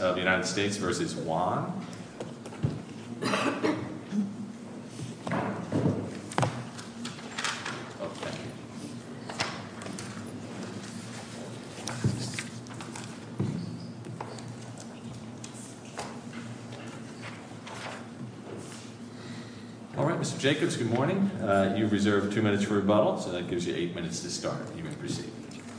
of the United States v. Wang. All right, Mr. Jacobs, good morning. You've reserved two minutes for rebuttal, so that gives you eight minutes to start.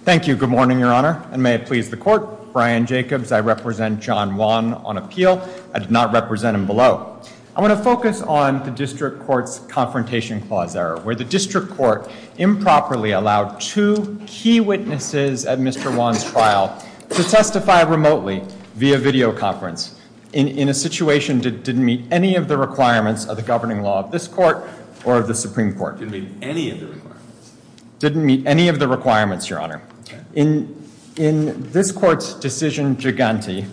Thank you. Good morning, Your Honor. And may it please the Court. I'm Brian Jacobs. I represent John Wang on appeal. I did not represent him below. I want to focus on the District Court's Confrontation Clause error, where the District Court improperly allowed two key witnesses at Mr. Wang's trial to testify remotely via videoconference in a situation that didn't meet any of the requirements of the governing law of this Court or of the Supreme Court. Didn't meet any of the requirements. Didn't meet any of the requirements, Your Honor. In this Court's decision gigante,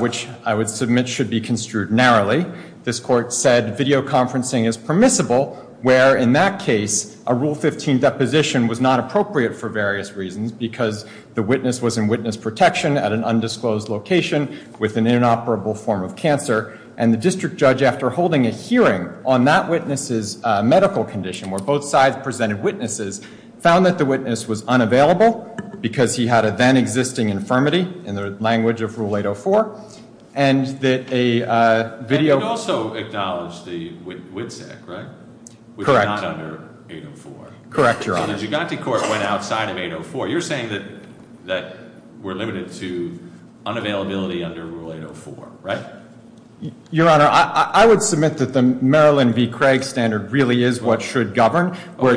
which I would submit should be construed narrowly, this Court said videoconferencing is permissible where, in that case, a Rule 15 deposition was not appropriate for various reasons because the witness was in witness protection at an undisclosed location with an inoperable form of cancer. And the District Judge, after holding a hearing on that witness's medical condition where both sides presented witnesses, found that the witness was unavailable because he had a then-existing infirmity in the language of Rule 804, and that a video You could also acknowledge the WITSEC, right? Correct. Which is not under 804. Correct, Your Honor. So the gigante Court went outside of 804. You're saying that we're limited to unavailability under Rule 804, right? Your Honor, I would submit that the Maryland v. Craig standard really is what should govern. Well,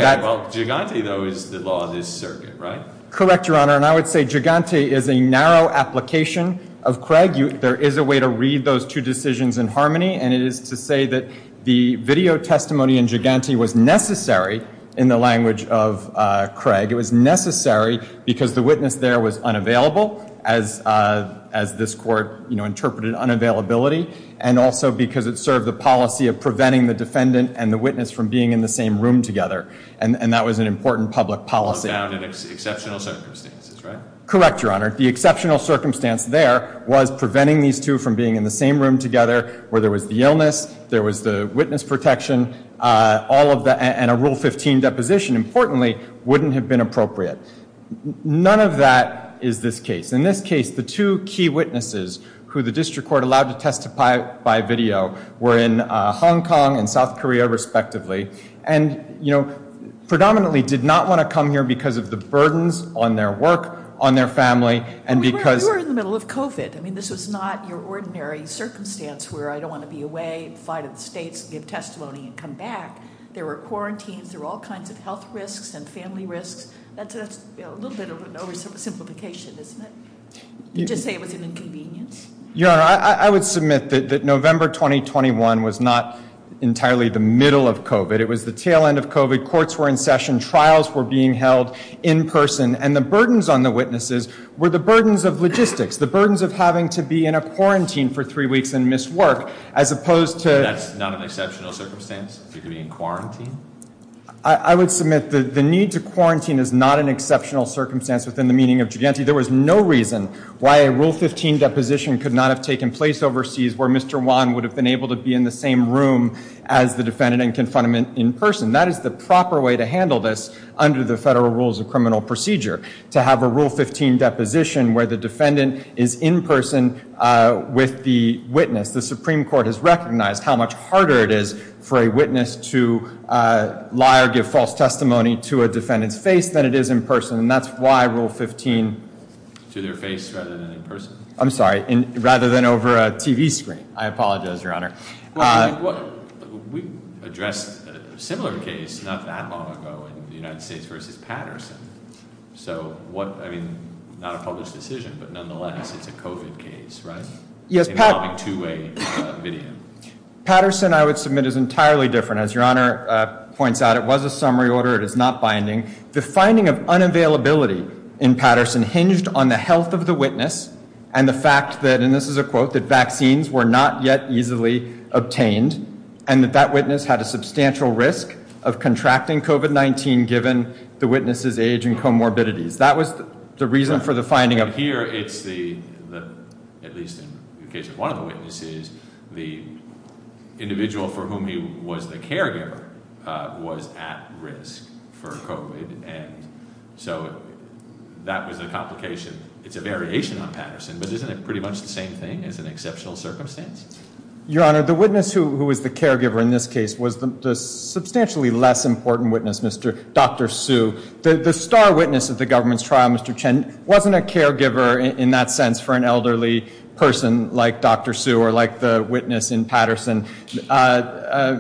gigante, though, is the law of this circuit, right? Correct, Your Honor. And I would say gigante is a narrow application of Craig. There is a way to read those two decisions in harmony, and it is to say that the video testimony in gigante was necessary in the language of Craig. It was necessary because the witness there was unavailable, as this Court interpreted unavailability, and also because it served the policy of preventing the defendant and the witness from being in the same room together. And that was an important public policy. It was found in exceptional circumstances, right? Correct, Your Honor. The exceptional circumstance there was preventing these two from being in the same room together where there was the illness, there was the witness protection, and a Rule 15 deposition, importantly, wouldn't have been appropriate. None of that is this case. In this case, the two key witnesses who the district court allowed to testify by video were in Hong Kong and South Korea, respectively, and predominantly did not want to come here because of the burdens on their work, on their family, and because... You were in the middle of COVID. I mean, this was not your ordinary circumstance where I don't want to be away, fly to the States, give testimony, and come back. There were quarantines. There were all kinds of health risks and family risks. That's a little bit of an oversimplification, isn't it? You just say it was an inconvenience. Your Honor, I would submit that November 2021 was not entirely the middle of COVID. It was the tail end of COVID. Courts were in session. Trials were being held in person. And the burdens on the witnesses were the burdens of logistics, the burdens of having to be in a quarantine for three weeks and miss work, as opposed to... That's not an exceptional circumstance, to be in quarantine? I would submit that the need to quarantine is not an exceptional circumstance within the meaning of gigante. There was no reason why a Rule 15 deposition could not have taken place overseas where Mr. Won would have been able to be in the same room as the defendant and confront him in person. That is the proper way to handle this under the Federal Rules of Criminal Procedure, to have a Rule 15 deposition where the defendant is in person with the witness. The Supreme Court has recognized how much harder it is for a witness to lie or give false testimony to a defendant's face than it is in person. And that's why Rule 15... To their face rather than in person? I'm sorry. Rather than over a TV screen. I apologize, Your Honor. We addressed a similar case not that long ago in the United States versus Patterson. So, I mean, not a published decision, but nonetheless, it's a COVID case, right? Yes, Patterson, I would submit, is entirely different. As Your Honor points out, it was a summary order. It is not binding. The finding of unavailability in Patterson hinged on the health of the witness and the fact that, and this is a quote, that vaccines were not yet easily obtained and that that witness had a substantial risk of contracting COVID-19 given the witness's age and comorbidities. That was the reason for the finding of... Here it's the, at least in the case of one of the witnesses, the individual for whom he was the caregiver was at risk for COVID, and so that was a complication. It's a variation on Patterson, but isn't it pretty much the same thing as an exceptional circumstance? Your Honor, the witness who was the caregiver in this case was the substantially less important witness, Dr. Su. The star witness at the government's trial, Mr. Chen, wasn't a caregiver in that sense for an elderly person like Dr. Su or like the witness in Patterson.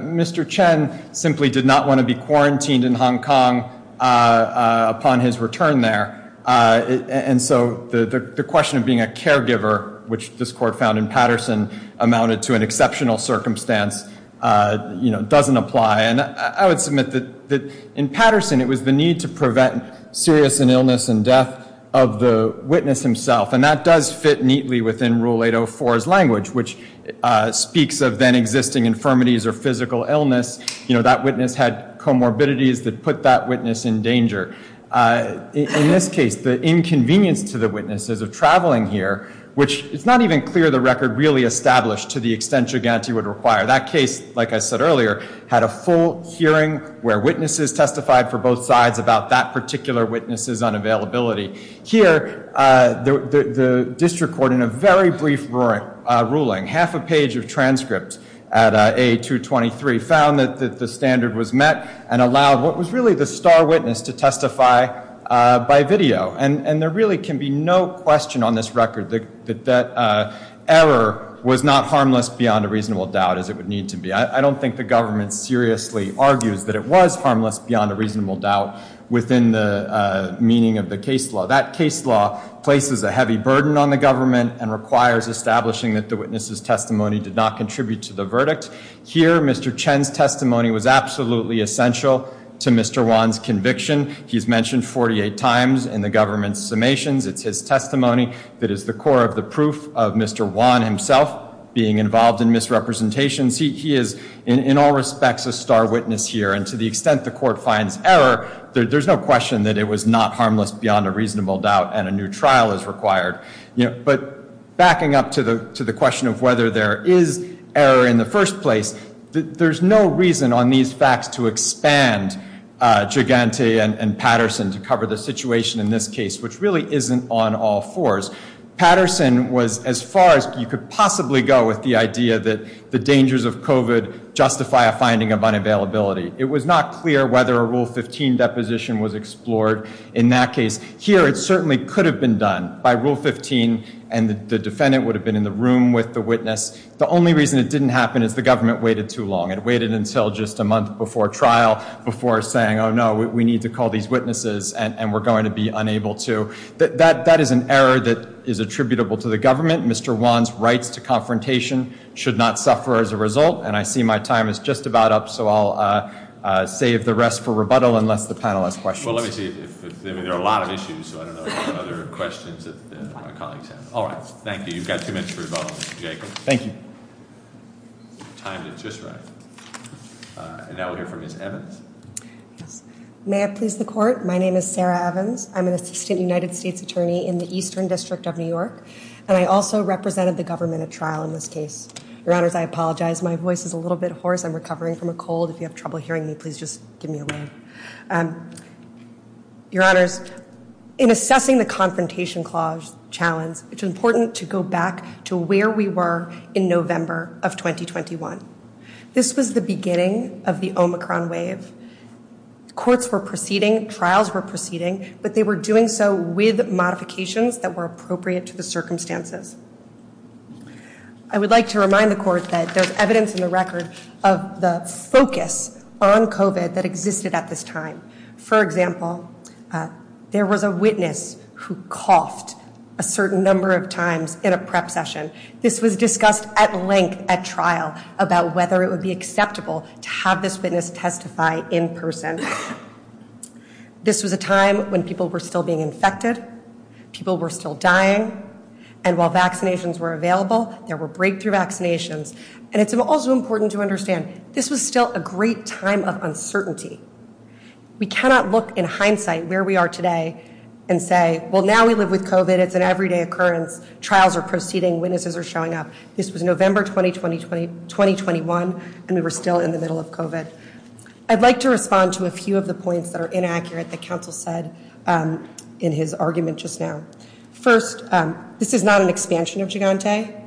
Mr. Chen simply did not want to be quarantined in Hong Kong upon his return there, and so the question of being a caregiver, which this court found in Patterson, amounted to an exceptional circumstance, doesn't apply. And I would submit that in Patterson, it was the need to prevent serious illness and death of the witness himself, and that does fit neatly within Rule 804's language, which speaks of then existing infirmities or physical illness. You know, that witness had comorbidities that put that witness in danger. In this case, the inconvenience to the witnesses of traveling here, which it's not even clear the record really established to the extent Giganti would require. That case, like I said earlier, had a full hearing where witnesses testified for both sides about that particular witness' unavailability. Here, the district court, in a very brief ruling, half a page of transcripts at A223 found that the standard was met and allowed what was really the star witness to testify by video. And there really can be no question on this record that that error was not harmless beyond a reasonable doubt, as it would need to be. I don't think the government seriously argues that it was harmless beyond a reasonable doubt within the meaning of the case law. That case law places a heavy burden on the government and requires establishing that the witness' testimony did not contribute to the verdict. Here, Mr. Chen's testimony was absolutely essential to Mr. Wan's conviction. He's mentioned 48 times in the government's summations. It's his testimony that is the core of the proof of Mr. Wan himself being involved in misrepresentations. He is, in all respects, a star witness here. And to the extent the court finds error, there's no question that it was not harmless beyond a reasonable doubt and a new trial is required. But backing up to the question of whether there is error in the first place, there's no reason on these facts to expand Giganti and Patterson to cover the situation in this case, which really isn't on all fours. Patterson was as far as you could possibly go with the idea that the dangers of COVID justify a finding of unavailability. It was not clear whether a Rule 15 deposition was explored in that case. Here, it certainly could have been done by Rule 15, and the defendant would have been in the room with the witness. The only reason it didn't happen is the government waited too long. It waited until just a month before trial before saying, oh, no, we need to call these witnesses, and we're going to be unable to. That is an error that is attributable to the government. Mr. Wan's rights to confrontation should not suffer as a result. And I see my time is just about up, so I'll save the rest for rebuttal unless the panel has questions. Well, let me see. There are a lot of issues, so I don't know if there are other questions that my colleagues have. All right. Thank you. You've got two minutes for rebuttal, Mr. Jacob. Thank you. Timed it just right. And now we'll hear from Ms. Evans. May I please the Court? My name is Sarah Evans. I'm an assistant United States attorney in the Eastern District of New York, and I also represented the government at trial in this case. Your Honors, I apologize. My voice is a little bit hoarse. I'm recovering from a cold. If you have trouble hearing me, please just give me a wave. Your Honors, in assessing the Confrontation Clause challenge, it's important to go back to where we were in November of 2021. This was the beginning of the Omicron wave. Courts were proceeding, trials were proceeding, but they were doing so with modifications that were appropriate to the circumstances. I would like to remind the Court that there's evidence in the record of the focus on COVID that existed at this time. For example, there was a witness who coughed a certain number of times in a prep session. This was discussed at length at trial about whether it would be acceptable to have this witness testify in person. This was a time when people were still being infected, people were still dying, and while vaccinations were available, there were breakthrough vaccinations. And it's also important to understand this was still a great time of uncertainty. We cannot look in hindsight where we are today and say, well, now we live with COVID, it's an everyday occurrence, trials are proceeding, witnesses are showing up. This was November 2021, and we were still in the middle of COVID. I'd like to respond to a few of the points that are inaccurate that counsel said in his argument just now. First, this is not an expansion of Gigante.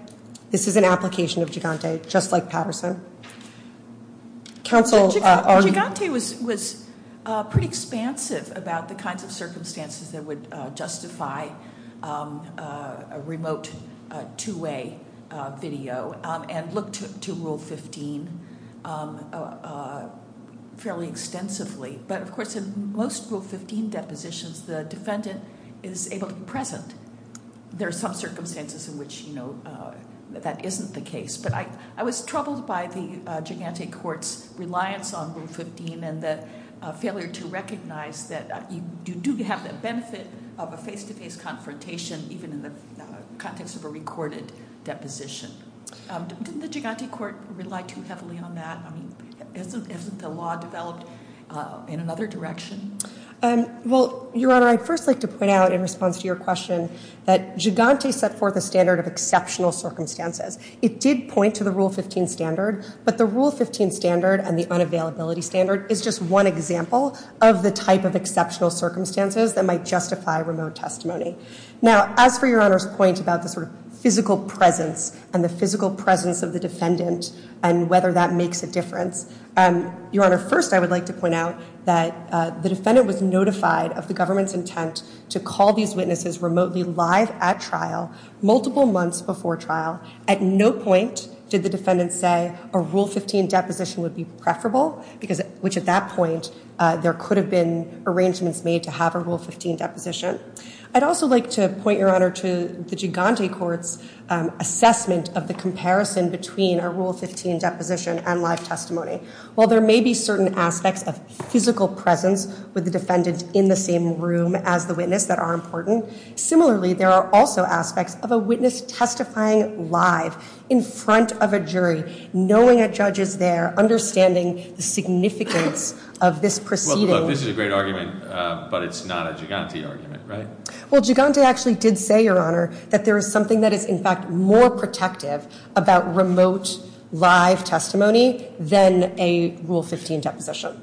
This is an application of Gigante, just like Patterson. Counsel- Gigante was pretty expansive about the kinds of circumstances that would justify a remote two-way video, and looked to Rule 15 fairly extensively. But, of course, in most Rule 15 depositions, the defendant is able to be present. There are some circumstances in which that isn't the case. But I was troubled by the Gigante court's reliance on Rule 15 and the failure to recognize that you do have the benefit of a face-to-face confrontation, even in the context of a recorded deposition. Didn't the Gigante court rely too heavily on that? I mean, isn't the law developed in another direction? Well, Your Honor, I'd first like to point out in response to your question that Gigante set forth a standard of exceptional circumstances. It did point to the Rule 15 standard, but the Rule 15 standard and the unavailability standard is just one example of the type of exceptional circumstances that might justify remote testimony. Now, as for Your Honor's point about the sort of physical presence Your Honor, first I would like to point out that the defendant was notified of the government's intent to call these witnesses remotely live at trial, multiple months before trial. At no point did the defendant say a Rule 15 deposition would be preferable, which, at that point, there could have been arrangements made to have a Rule 15 deposition. I'd also like to point, Your Honor, to the Gigante court's assessment of the comparison between a Rule 15 deposition and live testimony. While there may be certain aspects of physical presence with the defendant in the same room as the witness that are important, similarly, there are also aspects of a witness testifying live in front of a jury, knowing a judge is there, understanding the significance of this proceeding. Well, look, this is a great argument, but it's not a Gigante argument, right? Well, Gigante actually did say, Your Honor, that there is something that is, in fact, more protective about remote live testimony than a Rule 15 deposition.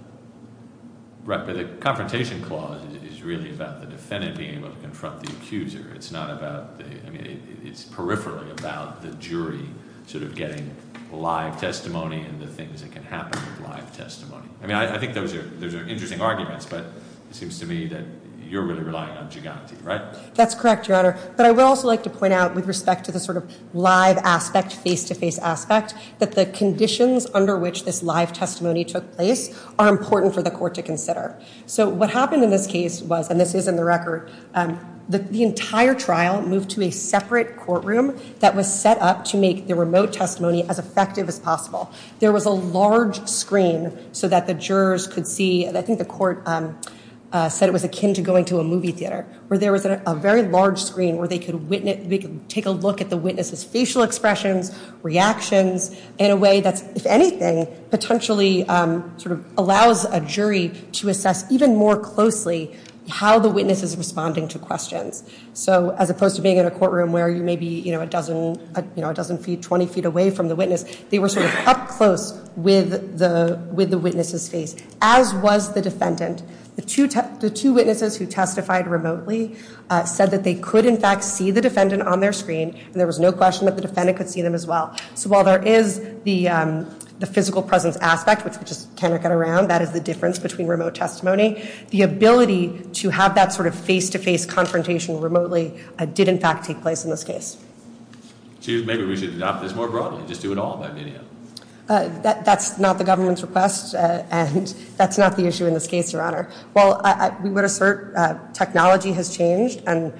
Right, but the confrontation clause is really about the defendant being able to confront the accuser. It's not about the, I mean, it's peripherally about the jury sort of getting live testimony and the things that can happen with live testimony. I mean, I think those are interesting arguments, but it seems to me that you're really relying on Gigante, right? That's correct, Your Honor. But I would also like to point out with respect to the sort of live aspect, face-to-face aspect, that the conditions under which this live testimony took place are important for the court to consider. So what happened in this case was, and this is in the record, the entire trial moved to a separate courtroom that was set up to make the remote testimony as effective as possible. There was a large screen so that the jurors could see, and I think the court said it was akin to going to a movie theater, where there was a very large screen where they could take a look at the witness's facial expressions, reactions, in a way that, if anything, potentially sort of allows a jury to assess even more closely how the witness is responding to questions. So as opposed to being in a courtroom where you're maybe a dozen feet, 20 feet away from the witness, they were sort of up close with the witness's face, as was the defendant. The two witnesses who testified remotely said that they could, in fact, see the defendant on their screen, and there was no question that the defendant could see them as well. So while there is the physical presence aspect, which we just cannot get around, that is the difference between remote testimony, the ability to have that sort of face-to-face confrontation remotely did, in fact, take place in this case. Maybe we should adopt this more broadly, just do it all by video. That's not the government's request, and that's not the issue in this case, Your Honor. Well, we would assert technology has changed and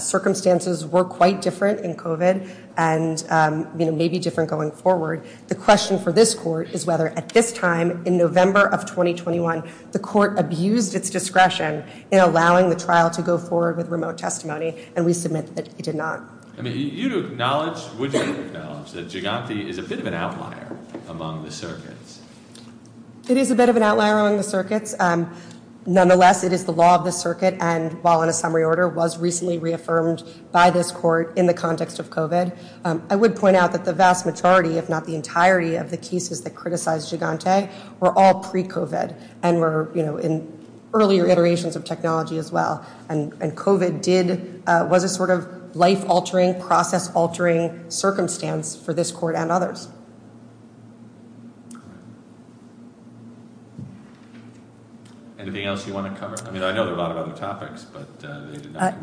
circumstances were quite different in COVID and may be different going forward. The question for this court is whether, at this time in November of 2021, the court abused its discretion in allowing the trial to go forward with remote testimony, and we submit that it did not. I mean, would you acknowledge that Gigante is a bit of an outlier among the circuits? It is a bit of an outlier among the circuits. Nonetheless, it is the law of the circuit and, while in a summary order, was recently reaffirmed by this court in the context of COVID. I would point out that the vast majority, if not the entirety, of the cases that criticized Gigante were all pre-COVID and were in earlier iterations of technology as well. And COVID was a sort of life-altering, process-altering circumstance for this court and others. Anything else you want to cover? I mean, I know there are a lot of other topics.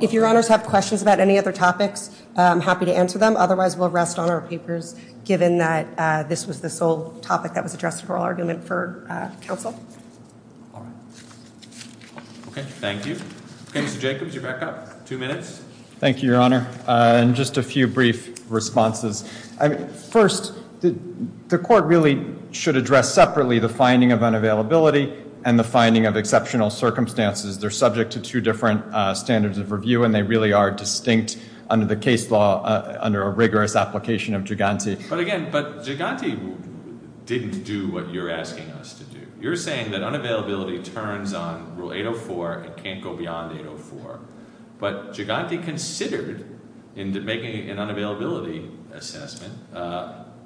If Your Honors have questions about any other topics, I'm happy to answer them. Otherwise, we'll rest on our papers, given that this was the sole topic that was addressed in oral argument for counsel. All right. Okay, thank you. Okay, Mr. Jacobs, you're back up. Two minutes. Thank you, Your Honor. And just a few brief responses. First, the court really should address separately the finding of unavailability and the finding of exceptional circumstances. They're subject to two different standards of review, and they really are distinct under the case law under a rigorous application of Gigante. But, again, Gigante didn't do what you're asking us to do. You're saying that unavailability turns on Rule 804 and can't go beyond 804. But Gigante considered, in making an unavailability assessment,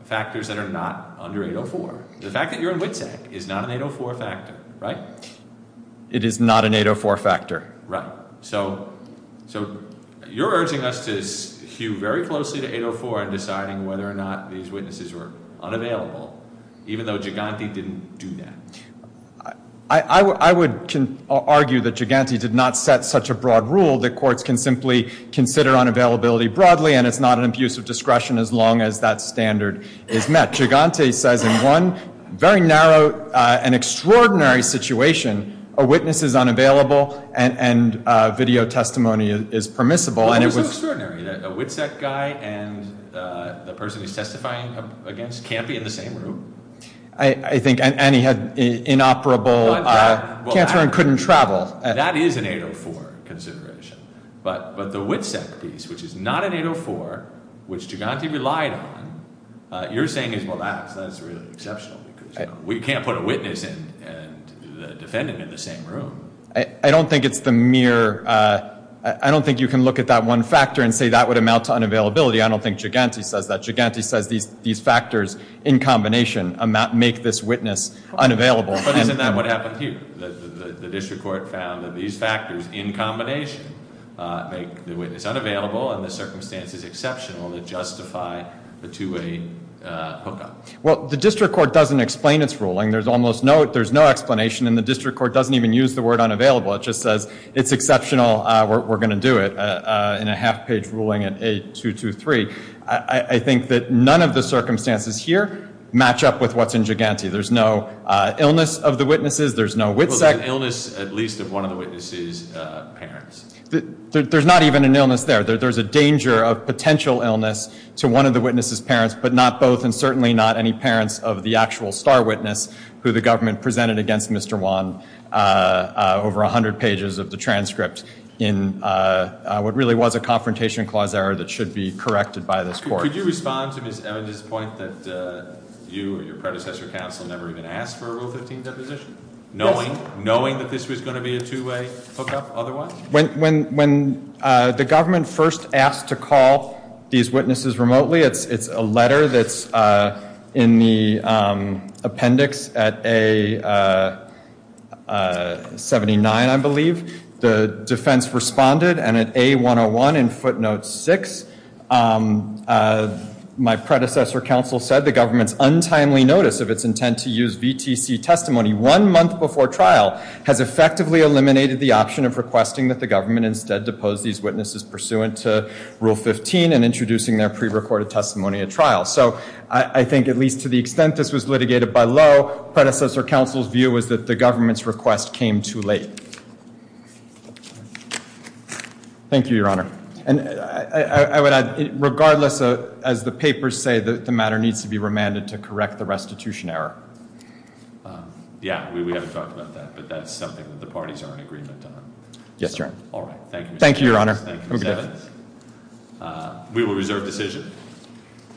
factors that are not under 804. The fact that you're in WITSAC is not an 804 factor, right? It is not an 804 factor. Right. So you're urging us to hew very closely to 804 in deciding whether or not these witnesses were unavailable, even though Gigante didn't do that. I would argue that Gigante did not set such a broad rule that courts can simply consider unavailability broadly, and it's not an abuse of discretion as long as that standard is met. Gigante says in one very narrow and extraordinary situation, a witness is unavailable and video testimony is permissible. Well, it was so extraordinary that a WITSAC guy and the person he's testifying against can't be in the same room. I think, and he had inoperable cancer and couldn't travel. That is an 804 consideration. But the WITSAC piece, which is not an 804, which Gigante relied on, you're saying is, well, that is really exceptional because we can't put a witness and the defendant in the same room. I don't think it's the mere—I don't think you can look at that one factor and say that would amount to unavailability. I don't think Gigante says that. Gigante says these factors in combination make this witness unavailable. But isn't that what happened here? The district court found that these factors in combination make the witness unavailable and the circumstances exceptional that justify the two-way hookup. Well, the district court doesn't explain its ruling. There's almost no—there's no explanation, and the district court doesn't even use the word unavailable. It just says it's exceptional. We're going to do it in a half-page ruling in A223. I think that none of the circumstances here match up with what's in Gigante. There's no illness of the witnesses. There's no WITSEC. Well, there's an illness at least of one of the witness's parents. There's not even an illness there. There's a danger of potential illness to one of the witness's parents, but not both, and certainly not any parents of the actual star witness, who the government presented against Mr. Wan over 100 pages of the transcript in what really was a confrontation clause error that should be corrected by this court. Could you respond to Ms. Evans' point that you or your predecessor counsel never even asked for a Rule 15 deposition, knowing that this was going to be a two-way hookup otherwise? When the government first asked to call these witnesses remotely, it's a letter that's in the appendix at A79, I believe. The defense responded, and at A101 in footnote 6, my predecessor counsel said, the government's untimely notice of its intent to use VTC testimony one month before trial has effectively eliminated the option of requesting that the government instead depose these witnesses pursuant to Rule 15 and introducing their prerecorded testimony at trial. So I think at least to the extent this was litigated by law, predecessor counsel's view was that the government's request came too late. Thank you, Your Honor. And I would add, regardless, as the papers say, that the matter needs to be remanded to correct the restitution error. Yeah, we haven't talked about that, but that's something that the parties are in agreement on. Yes, Your Honor. All right. Thank you, Ms. Evans. Thank you, Your Honor. Thank you, Ms. Evans. We will reserve decision.